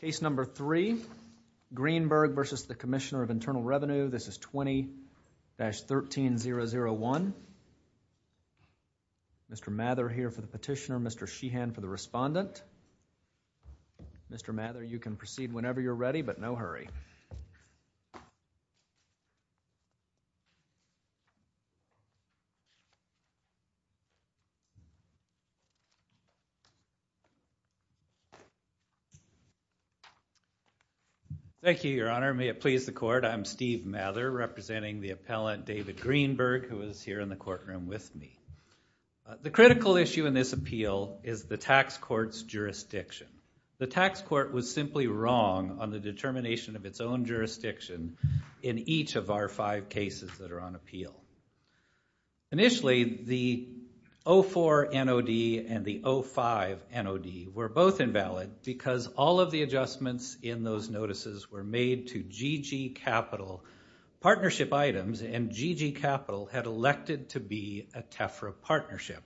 Case number three, Greenberg v. Commissioner of Internal Revenue, this is 20-13-001. Mr. Mather here for the petitioner, Mr. Sheehan for the respondent. Mr. Mather, you can proceed whenever you're ready, but no hurry. Thank you, Your Honor. May it please the Court, I'm Steve Mather representing the appellant David Greenberg who is here in the courtroom with me. The critical issue in this appeal is the tax court's jurisdiction. The tax court was simply wrong on the determination of its own jurisdiction in each of our five cases that are on appeal. Initially, the 04 NOD and the 05 NOD were both invalid because all of the adjustments in those notices were made to GG Capital. Partnership items and GG Capital had elected to be a TEFRA partnership.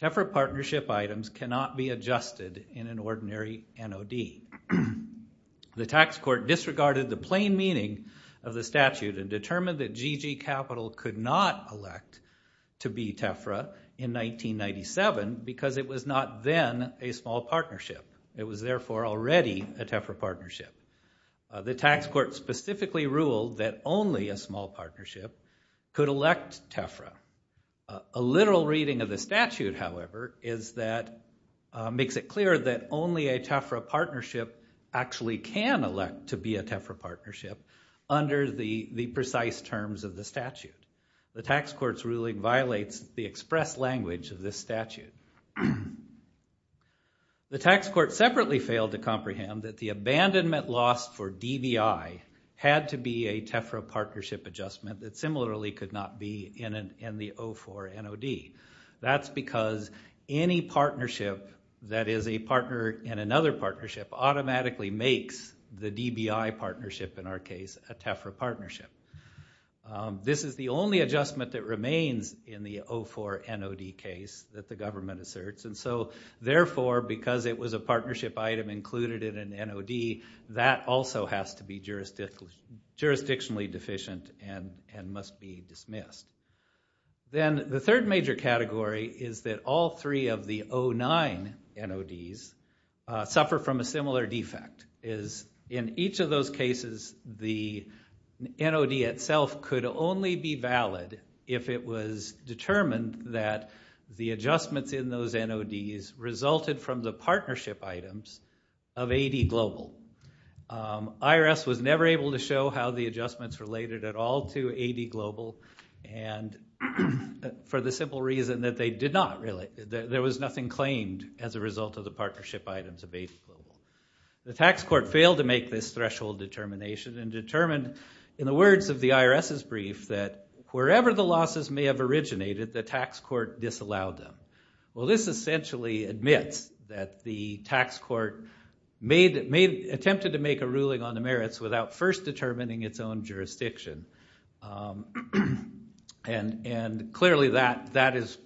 TEFRA partnership items cannot be adjusted in an ordinary NOD. The tax court disregarded the plain meaning of the statute and determined that GG Capital could not elect to be TEFRA in 1997 because it was not then a small partnership. It was therefore already a TEFRA partnership. The tax court specifically ruled that only a small partnership could elect TEFRA. A literal reading of the statute, however, makes it clear that only a TEFRA partnership actually can elect to be a TEFRA partnership under the precise terms of the statute. The tax court's ruling violates the express language of this statute. The tax court separately failed to comprehend that the abandonment loss for DBI had to be a TEFRA partnership adjustment that similarly could not be in the 04 NOD. That's because any partnership that is a partner in another partnership automatically makes the DBI partnership, in our case, a TEFRA partnership. This is the only adjustment that remains in the 04 NOD case that the government asserts. And so, therefore, because it was a partnership item included in an NOD, that also has to be jurisdictionally deficient and must be dismissed. Then the third major category is that all three of the 09 NODs suffer from a similar defect. In each of those cases, the NOD itself could only be valid if it was determined that the adjustments in those NODs resulted from the partnership items of AD Global. IRS was never able to show how the adjustments related at all to AD Global, and for the simple reason that there was nothing claimed as a result of the partnership items of AD Global. The tax court failed to make this threshold determination and determined, in the words of the IRS's brief, that wherever the losses may have originated, the tax court disallowed them. Well, this essentially admits that the tax court attempted to make a ruling on the merits without first determining its own jurisdiction, and clearly that is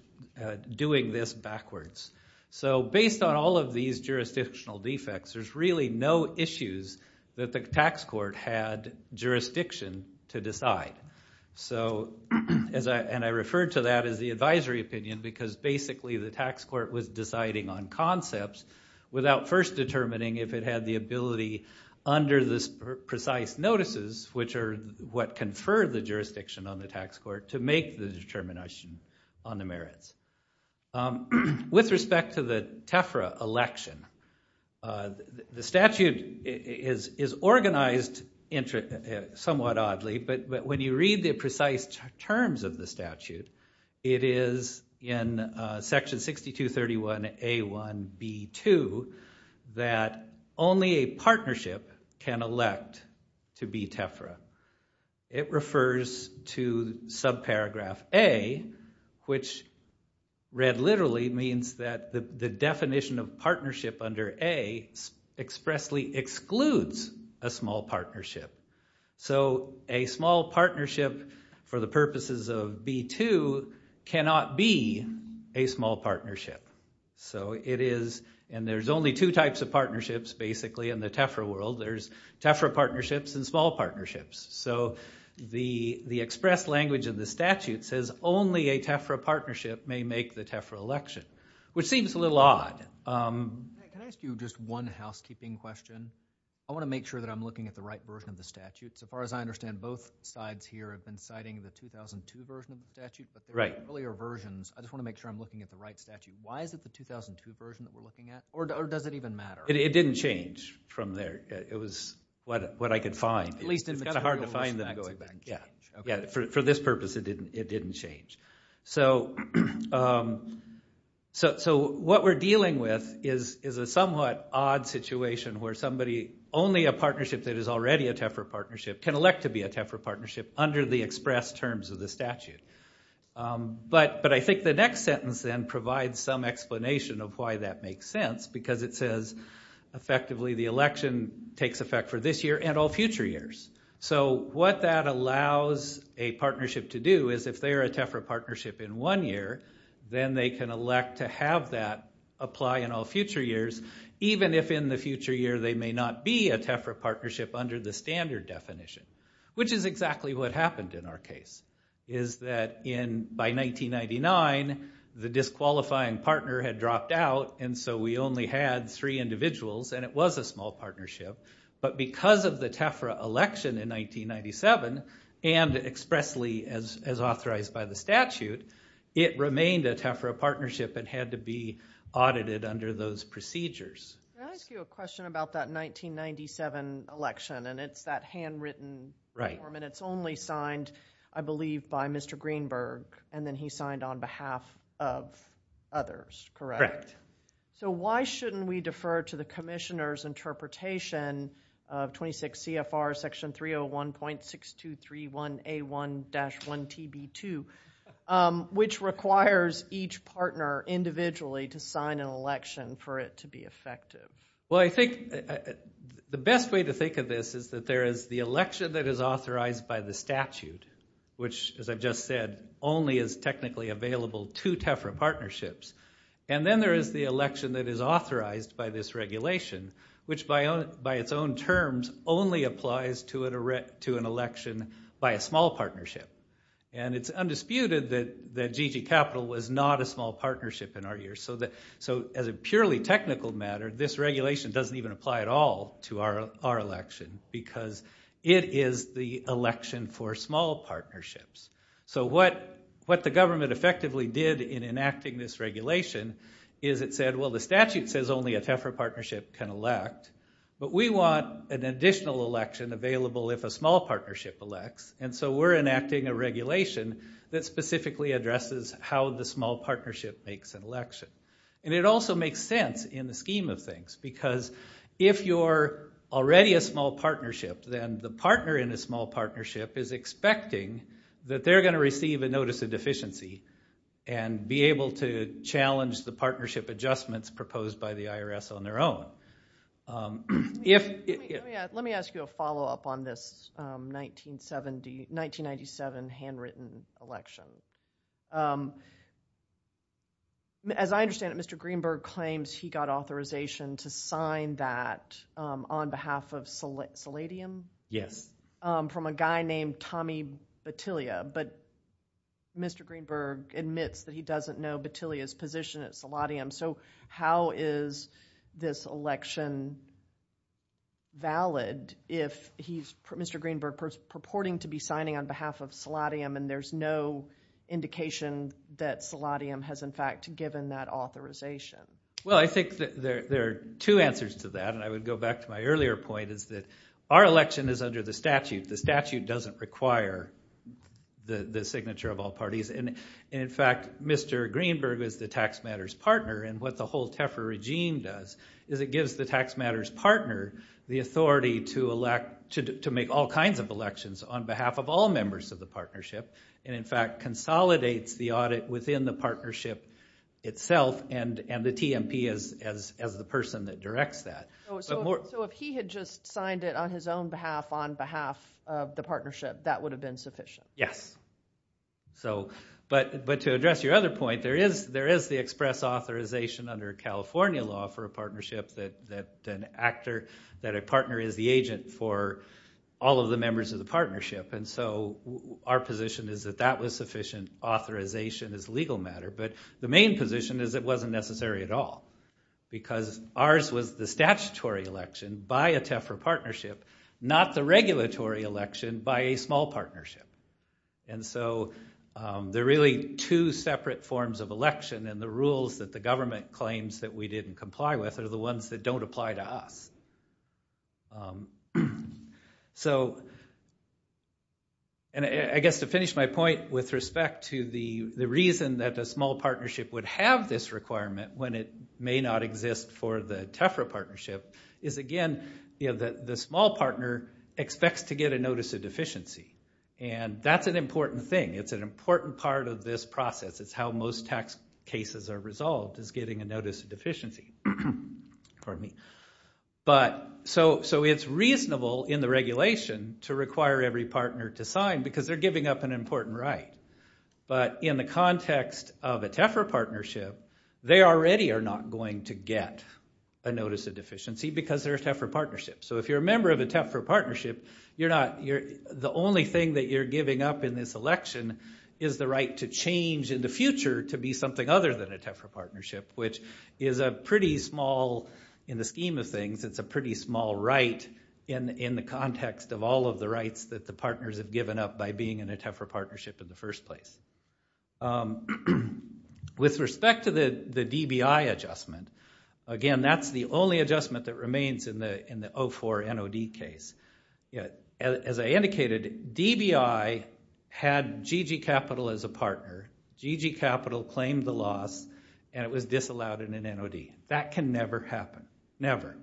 doing this backwards. So based on all of these jurisdictional defects, there's really no issues that the tax court had jurisdiction to decide. And I refer to that as the advisory opinion because basically the tax court was deciding on concepts without first determining if it had the ability under the precise notices, which are what conferred the jurisdiction on the tax court, to make the determination on the merits. With respect to the TEFRA election, the statute is organized somewhat oddly, but when you read the precise terms of the statute, it is in section 6231A1B2 that only a partnership can elect to be TEFRA. It refers to subparagraph A, which read literally means that the definition of partnership under A expressly excludes a small partnership. So a small partnership for the purposes of B2 cannot be a small partnership. So it is, and there's only two types of partnerships basically in the TEFRA world, there's TEFRA partnerships and small partnerships. So the express language of the statute says only a TEFRA partnership may make the TEFRA election, which seems a little odd. Can I ask you just one housekeeping question? I want to make sure that I'm looking at the right version of the statute. So far as I understand, both sides here have been citing the 2002 version of the statute, but the earlier versions, I just want to make sure I'm looking at the right statute. Why is it the 2002 version that we're looking at, or does it even matter? It didn't change from there. It was what I could find. It's kind of hard to find them going back. For this purpose, it didn't change. So what we're dealing with is a somewhat odd situation where somebody, only a partnership that is already a TEFRA partnership can elect to be a TEFRA partnership under the express terms of the statute. But I think the next sentence then provides some explanation of why that makes sense, because it says, effectively, the election takes effect for this year and all future years. So what that allows a partnership to do is if they are a TEFRA partnership in one year, then they can elect to have that apply in all future years, even if in the future year they may not be a TEFRA partnership under the standard definition, which is exactly what happened in our case, is that by 1999, the disqualifying partner had dropped out, and so we only had three individuals, and it was a small partnership. But because of the TEFRA election in 1997, and expressly as authorized by the statute, it remained a TEFRA partnership and had to be audited under those procedures. Can I ask you a question about that 1997 election, and it's that handwritten form, and it's only signed, I believe, by Mr. Greenberg, and then he signed on behalf of others, correct? Correct. So why shouldn't we defer to the commissioner's interpretation of 26 CFR section 301.6231A1-1TB2, which requires each partner individually to sign an election for it to be effective? Well, I think the best way to think of this is that there is the election that is authorized by the statute, which, as I've just said, only is technically available to TEFRA partnerships, and then there is the election that is authorized by this regulation, which by its own terms only applies to an election by a small partnership. And it's undisputed that GG Capital was not a small partnership in our years. So as a purely technical matter, this regulation doesn't even apply at all to our election because it is the election for small partnerships. So what the government effectively did in enacting this regulation is it said, well, the statute says only a TEFRA partnership can elect, but we want an additional election available if a small partnership elects, and so we're enacting a regulation that specifically addresses how the small partnership makes an election. And it also makes sense in the scheme of things because if you're already a small partnership, then the partner in a small partnership is expecting that they're going to receive a notice of deficiency and be able to challenge the partnership adjustments proposed by the IRS on their own. Let me ask you a follow-up on this 1997 handwritten election. As I understand it, Mr. Greenberg claims he got authorization to sign that on behalf of Seladium? Yes. From a guy named Tommy Battiglia, but Mr. Greenberg admits that he doesn't know Battiglia's position at Seladium. So how is this election valid if Mr. Greenberg is purporting to be signing on behalf of Seladium and there's no indication that Seladium has, in fact, given that authorization? Well, I think there are two answers to that, and I would go back to my earlier point, is that our election is under the statute. The statute doesn't require the signature of all parties. And, in fact, Mr. Greenberg is the tax matters partner, and what the whole TEFRA regime does is it gives the tax matters partner the authority to elect, to make all kinds of elections on behalf of all members of the partnership, and, in fact, consolidates the audit within the partnership itself and the TMP as the person that directs that. So if he had just signed it on his own behalf, on behalf of the partnership, that would have been sufficient? Yes. But to address your other point, there is the express authorization under California law for a partnership that an actor, that a partner is the agent for all of the members of the partnership. And so our position is that that was sufficient authorization as a legal matter, but the main position is it wasn't necessary at all because ours was the statutory election by a TEFRA partnership, not the regulatory election by a small partnership. And so there are really two separate forms of election, and the rules that the government claims that we didn't comply with are the ones that don't apply to us. So I guess to finish my point with respect to the reason that a small partnership would have this requirement when it may not exist for the TEFRA partnership is, again, the small partner expects to get a notice of deficiency, and that's an important thing. It's an important part of this process. It's how most tax cases are resolved is getting a notice of deficiency. So it's reasonable in the regulation to require every partner to sign because they're giving up an important right. But in the context of a TEFRA partnership, they already are not going to get a notice of deficiency because they're a TEFRA partnership. So if you're a member of a TEFRA partnership, the only thing that you're giving up in this election is the right to change in the future to be something other than a TEFRA partnership, which is a pretty small in the scheme of things. It's a pretty small right in the context of all of the rights that the partners have given up by being in a TEFRA partnership in the first place. With respect to the DBI adjustment, again, that's the only adjustment that remains in the 04 NOD case. As I indicated, DBI had GG Capital as a partner. GG Capital claimed the loss, and it was disallowed in an NOD. That can never happen, never.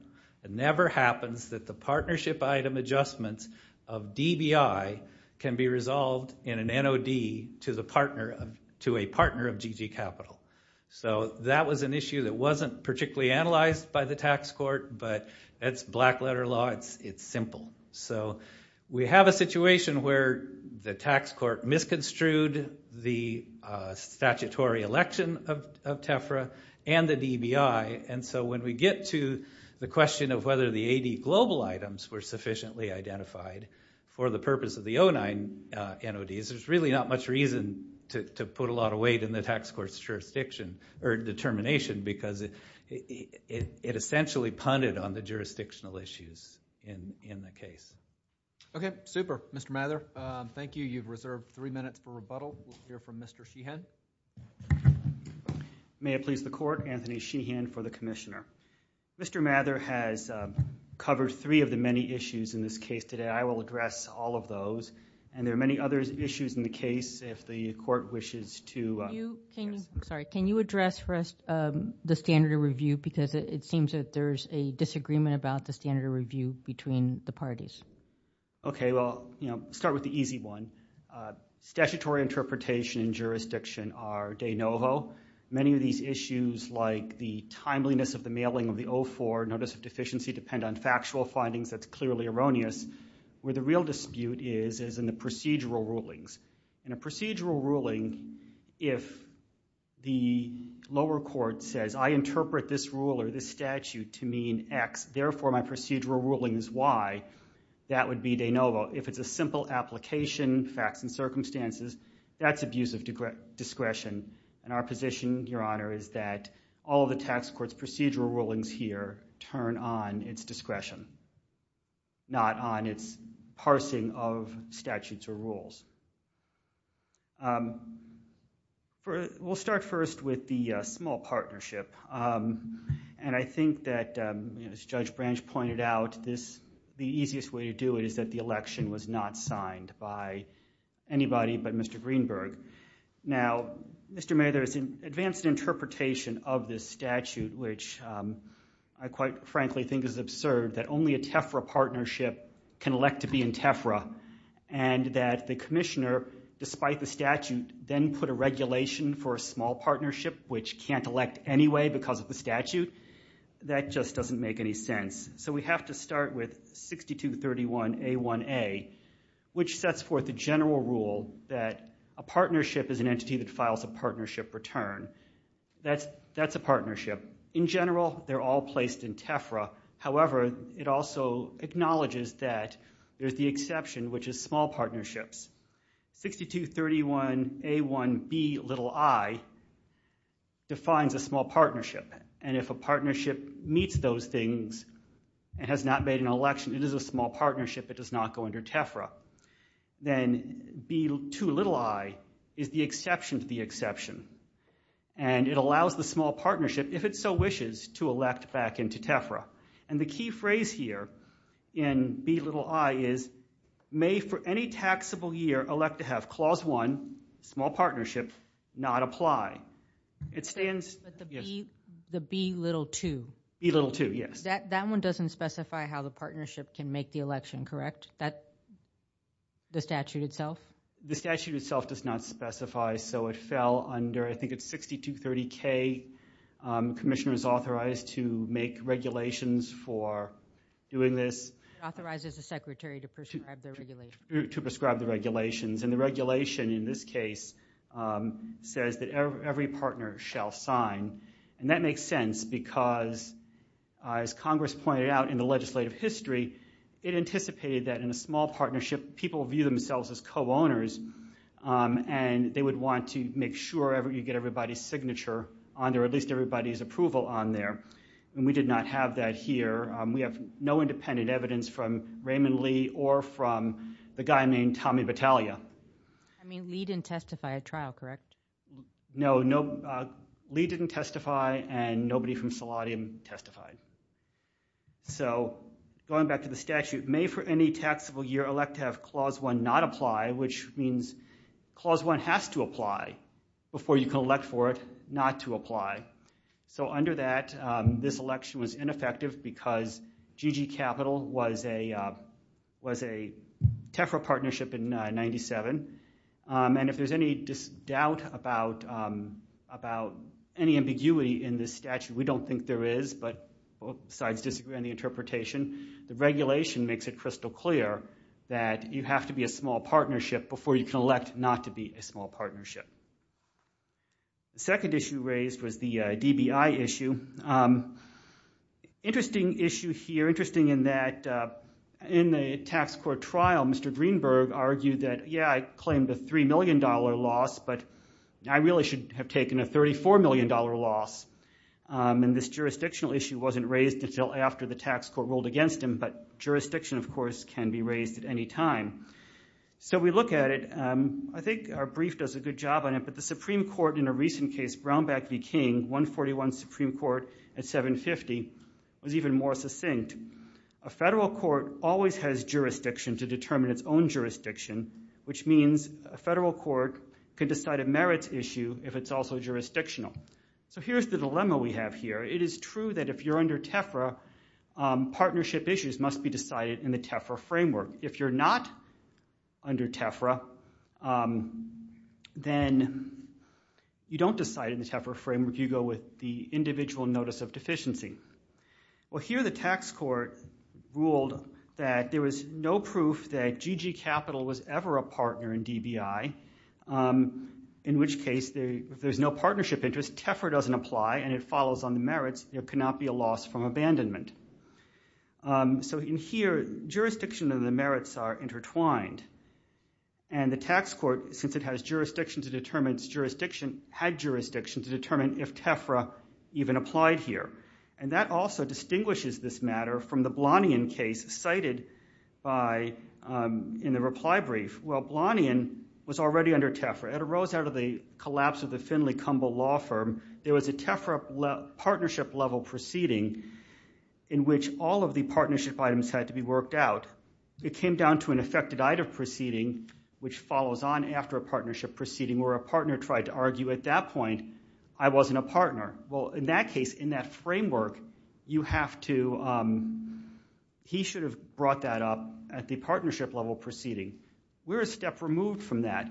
It never happens that the partnership item adjustments of DBI can be resolved in an NOD to a partner of GG Capital. So that was an issue that wasn't particularly analyzed by the tax court, but that's black-letter law. It's simple. So we have a situation where the tax court misconstrued the statutory election of TEFRA and the DBI, and so when we get to the question of whether the AD global items were sufficiently identified for the purpose of the 09 NODs, there's really not much reason to put a lot of weight in the tax court's jurisdiction or determination because it essentially punted on the jurisdictional issues in the case. Okay, super. Mr. Mather, thank you. You've reserved three minutes for rebuttal. We'll hear from Mr. Sheehan. May it please the Court, Anthony Sheehan for the Commissioner. Mr. Mather has covered three of the many issues in this case today. I will address all of those, and there are many other issues in the case if the Court wishes to address. Sorry, can you address first the standard of review because it seems that there's a disagreement about the standard of review between the parties? Okay, well, I'll start with the easy one. Statutory interpretation and jurisdiction are de novo. Many of these issues, like the timeliness of the mailing of the 04 Notice of Deficiency, depend on factual findings that's clearly erroneous. Where the real dispute is is in the procedural rulings. In a procedural ruling, if the lower court says, I interpret this rule or this statute to mean X, therefore my procedural ruling is Y, that would be de novo. If it's a simple application, facts and circumstances, that's abuse of discretion. And our position, Your Honor, is that all of the tax court's procedural rulings here turn on its discretion, not on its parsing of statutes or rules. We'll start first with the small partnership. And I think that, as Judge Branch pointed out, the easiest way to do it is that the election was not signed by anybody but Mr. Greenberg. Now, Mr. Mayor, there is an advanced interpretation of this statute, which I quite frankly think is absurd that only a TEFRA partnership can elect to be in TEFRA and that the commissioner, despite the statute, then put a regulation for a small partnership, which can't elect anyway because of the statute. That just doesn't make any sense. So we have to start with 6231A1A, which sets forth the general rule that a partnership is an entity that files a partnership return. That's a partnership. In general, they're all placed in TEFRA. However, it also acknowledges that there's the exception, which is small partnerships. 6231A1Bi defines a small partnership. And if a partnership meets those things and has not made an election, it is a small partnership. It does not go under TEFRA. Then B2i is the exception to the exception. And it allows the small partnership, if it so wishes, to elect back into TEFRA. And the key phrase here in Bi is, may for any taxable year elect to have Clause 1, small partnership, not apply. The B2i? B2i, yes. That one doesn't specify how the partnership can make the election, correct? The statute itself? The statute itself does not specify. So it fell under, I think it's 6230K. Commissioner is authorized to make regulations for doing this. Authorized as a secretary to prescribe the regulations. To prescribe the regulations. And the regulation in this case says that every partner shall sign. And that makes sense because, as Congress pointed out in the legislative history, it anticipated that in a small partnership, people view themselves as co-owners. And they would want to make sure you get everybody's signature on there, at least everybody's approval on there. And we did not have that here. We have no independent evidence from Raymond Lee or from the guy named Tommy Battaglia. I mean, Lee didn't testify at trial, correct? No, Lee didn't testify, and nobody from Seladium testified. So going back to the statute, may for any taxable year elect to have Clause 1 not apply, which means Clause 1 has to apply before you can elect for it not to apply. So under that, this election was ineffective because GG Capital was a TEFRA partnership in 97. And if there's any doubt about any ambiguity in this statute, we don't think there is. But besides disagreeing on the interpretation, the regulation makes it crystal clear that you have to be a small partnership before you can elect not to be a small partnership. The second issue raised was the DBI issue. Interesting issue here, interesting in that in the tax court trial, Mr. Greenberg argued that, yeah, I claimed a $3 million loss, but I really should have taken a $34 million loss. And this jurisdictional issue wasn't raised until after the tax court ruled against him, but jurisdiction, of course, can be raised at any time. So we look at it. I think our brief does a good job on it, but the Supreme Court in a recent case, Brownback v. King, 141 Supreme Court at 750, was even more succinct. A federal court always has jurisdiction to determine its own jurisdiction, which means a federal court can decide a merits issue if it's also jurisdictional. So here's the dilemma we have here. It is true that if you're under TEFRA, partnership issues must be decided in the TEFRA framework. If you're not under TEFRA, then you don't decide in the TEFRA framework. You go with the individual notice of deficiency. Well, here the tax court ruled that there was no proof that GG Capital was ever a partner in DBI, in which case if there's no partnership interest, TEFRA doesn't apply and it follows on the merits. There cannot be a loss from abandonment. So in here, jurisdiction and the merits are intertwined. And the tax court, since it has jurisdiction to determine its jurisdiction, had jurisdiction to determine if TEFRA even applied here. And that also distinguishes this matter from the Blanian case cited in the reply brief. Well, Blanian was already under TEFRA. It arose out of the collapse of the Finley-Cumble law firm. There was a TEFRA partnership level proceeding in which all of the partnership items had to be worked out. It came down to an affected item proceeding, which follows on after a partnership proceeding where a partner tried to argue at that point, I wasn't a partner. Well, in that case, in that framework, you have to, he should have brought that up at the partnership level proceeding. We're a step removed from that.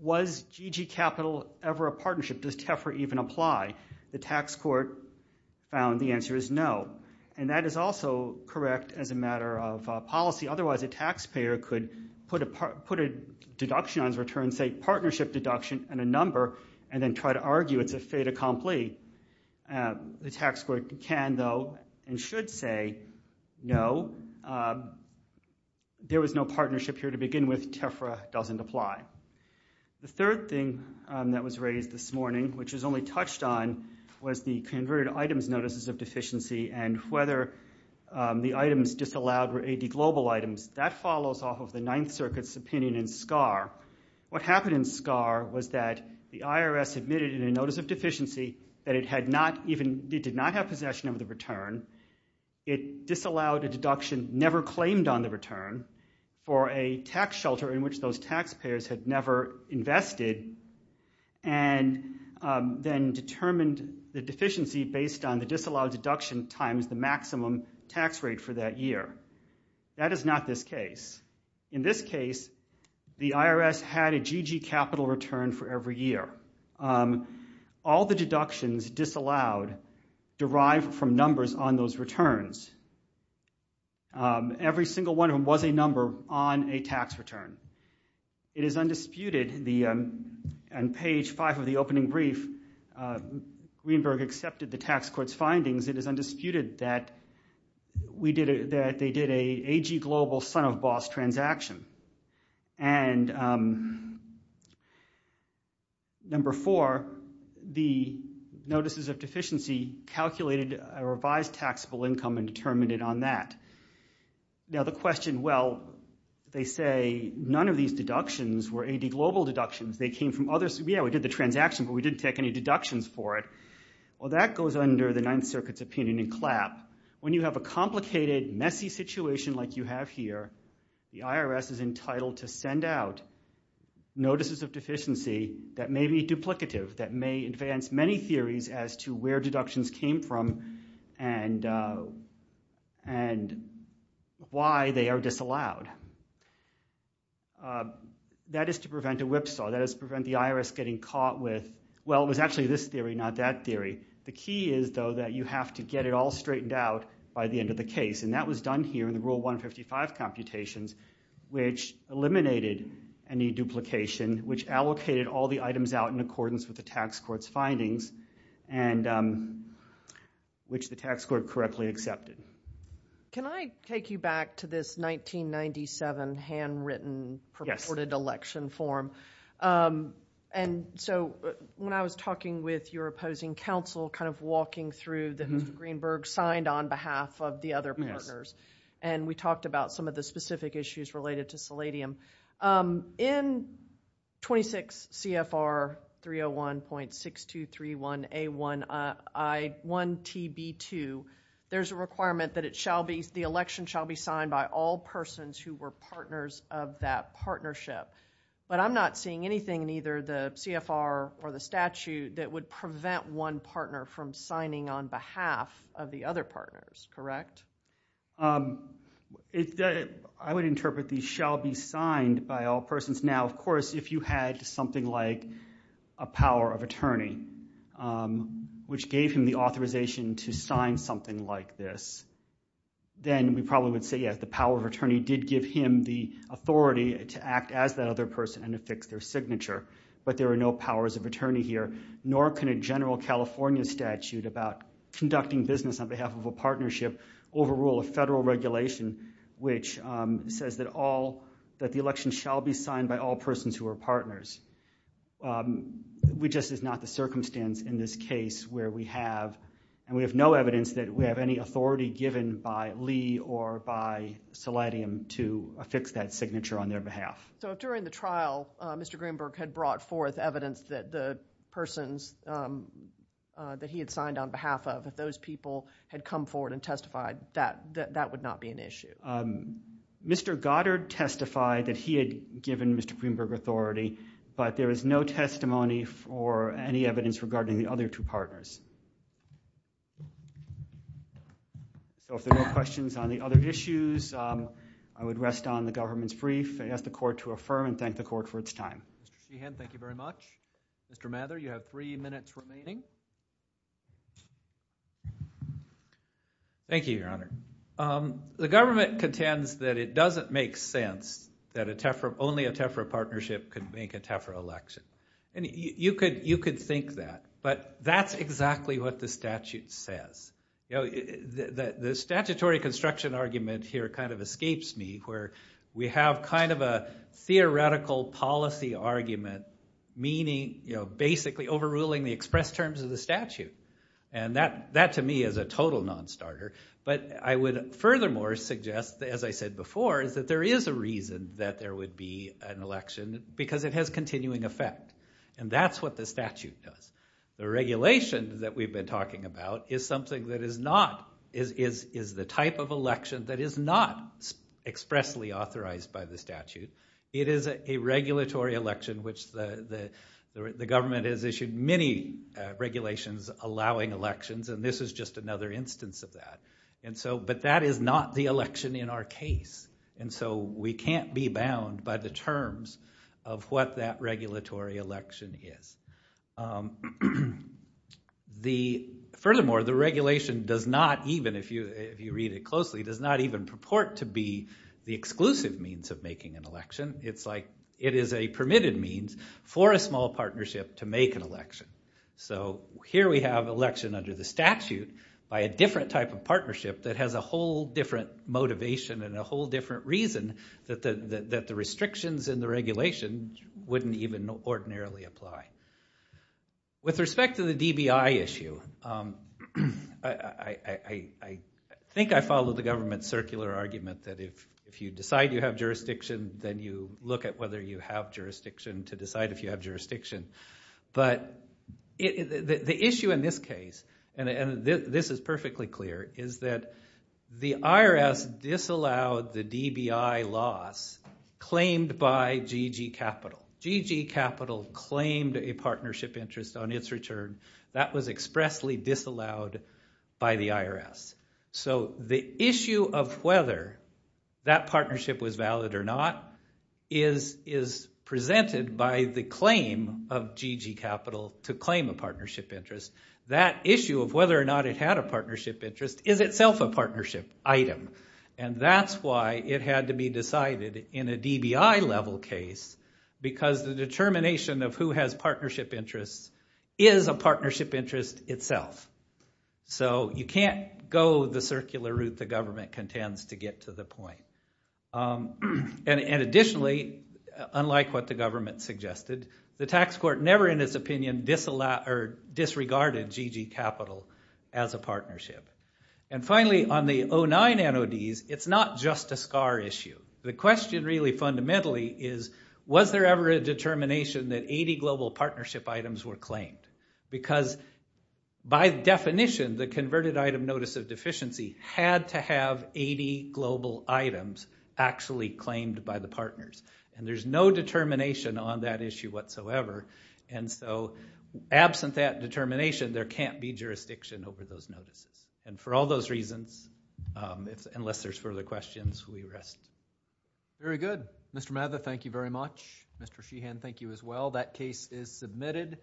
Was GG Capital ever a partnership? Does TEFRA even apply? The tax court found the answer is no. And that is also correct as a matter of policy. Otherwise, a taxpayer could put a deduction on his return, say partnership deduction and a number, and then try to argue it's a fait accompli. The tax court can, though, and should say no. There was no partnership here to begin with. TEFRA doesn't apply. The third thing that was raised this morning, which was only touched on, was the converted items notices of deficiency and whether the items disallowed were AD Global items. That follows off of the Ninth Circuit's opinion in SCAR. What happened in SCAR was that the IRS admitted in a notice of deficiency that it had not even, it did not have possession of the return. It disallowed a deduction, never claimed on the return, for a tax shelter in which those taxpayers had never invested, and then determined the deficiency based on the disallowed deduction times the maximum tax rate for that year. That is not this case. In this case, the IRS had a GG capital return for every year. All the deductions disallowed derived from numbers on those returns. Every single one of them was a number on a tax return. It is undisputed, and page five of the opening brief, Greenberg accepted the tax court's findings, it is undisputed that they did a AG Global son-of-boss transaction. And number four, the notices of deficiency calculated a revised taxable income and determined it on that. Now the question, well, they say none of these deductions were AD Global deductions. They came from others. Yeah, we did the transaction, but we didn't take any deductions for it. Well, that goes under the Ninth Circuit's opinion in CLAP. When you have a complicated, messy situation like you have here, the IRS is entitled to send out notices of deficiency that may be duplicative, that may advance many theories as to where deductions came from and why they are disallowed. That is to prevent a whipsaw. That is to prevent the IRS getting caught with, well, it was actually this theory, not that theory. The key is, though, that you have to get it all straightened out by the end of the case, and that was done here in the Rule 155 computations, which eliminated any duplication, which allocated all the items out in accordance with the tax court's findings, and which the tax court correctly accepted. Can I take you back to this 1997 handwritten purported election form? And so when I was talking with your opposing counsel, kind of walking through the Hoover-Greenberg signed on behalf of the other partners, and we talked about some of the specific issues related to seladium. In 26 CFR 301.6231A1I1TB2, there's a requirement that the election shall be signed by all persons who were partners of that partnership. But I'm not seeing anything in either the CFR or the statute that would prevent one partner from signing on behalf of the other partners, correct? I would interpret these shall be signed by all persons. Now, of course, if you had something like a power of attorney, which gave him the authorization to sign something like this, then we probably would say, yes, the power of attorney did give him the authority to act as that other person and affix their signature. But there are no powers of attorney here, nor can a general California statute about conducting business on behalf of a partnership overrule a federal regulation which says that all, that the election shall be signed by all persons who are partners. We just, it's not the circumstance in this case where we have, and we have no evidence that we have any authority given by Lee or by Seladium to affix that signature on their behalf. So if during the trial, Mr. Greenberg had brought forth evidence that the persons that he had signed on behalf of, if those people had come forward and testified, that would not be an issue. Mr. Goddard testified that he had given Mr. Greenberg authority, so if there are no questions on the other issues, I would rest on the government's brief and ask the court to affirm and thank the court for its time. Mr. Sheehan, thank you very much. Mr. Mather, you have three minutes remaining. Thank you, Your Honor. The government contends that it doesn't make sense that a TEFRA, only a TEFRA partnership could make a TEFRA election. And you could think that, but that's exactly what the statute says. The statutory construction argument here kind of escapes me, where we have kind of a theoretical policy argument, meaning basically overruling the express terms of the statute. And that to me is a total non-starter, but I would furthermore suggest, as I said before, is that there is a reason that there would be an election, because it has continuing effect. And that's what the statute does. The regulation that we've been talking about is something that is not, is the type of election that is not expressly authorized by the statute. It is a regulatory election, which the government has issued many regulations allowing elections, and this is just another instance of that. But that is not the election in our case. And so we can't be bound by the terms of what that regulatory election is. Furthermore, the regulation does not even, if you read it closely, does not even purport to be the exclusive means of making an election. It's like it is a permitted means for a small partnership to make an election. So here we have election under the statute by a different type of partnership that has a whole different motivation and a whole different reason that the restrictions in the regulation wouldn't even ordinarily apply. With respect to the DBI issue, I think I follow the government's circular argument that if you decide you have jurisdiction, then you look at whether you have jurisdiction to decide if you have jurisdiction. But the issue in this case, and this is perfectly clear, is that the IRS disallowed the DBI loss claimed by GG Capital. GG Capital claimed a partnership interest on its return. That was expressly disallowed by the IRS. So the issue of whether that partnership was valid or not is presented by the claim of GG Capital to claim a partnership interest. That issue of whether or not it had a partnership interest is itself a partnership item. And that's why it had to be decided in a DBI-level case because the determination of who has partnership interests is a partnership interest itself. So you can't go the circular route the government contends to get to the point. And additionally, unlike what the government suggested, the tax court never in its opinion disregarded GG Capital as a partnership. And finally, on the 09 NODs, it's not just a SCAR issue. The question really fundamentally is, was there ever a determination that 80 global partnership items were claimed? Because by definition, the converted item notice of deficiency had to have 80 global items actually claimed by the partners. And there's no determination on that issue whatsoever. And so absent that determination, there can't be jurisdiction over those notices. And for all those reasons, unless there's further questions, we rest. Very good. Mr. Mather, thank you very much. Mr. Sheehan, thank you as well. That case is submitted.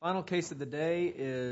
Final case of the day is...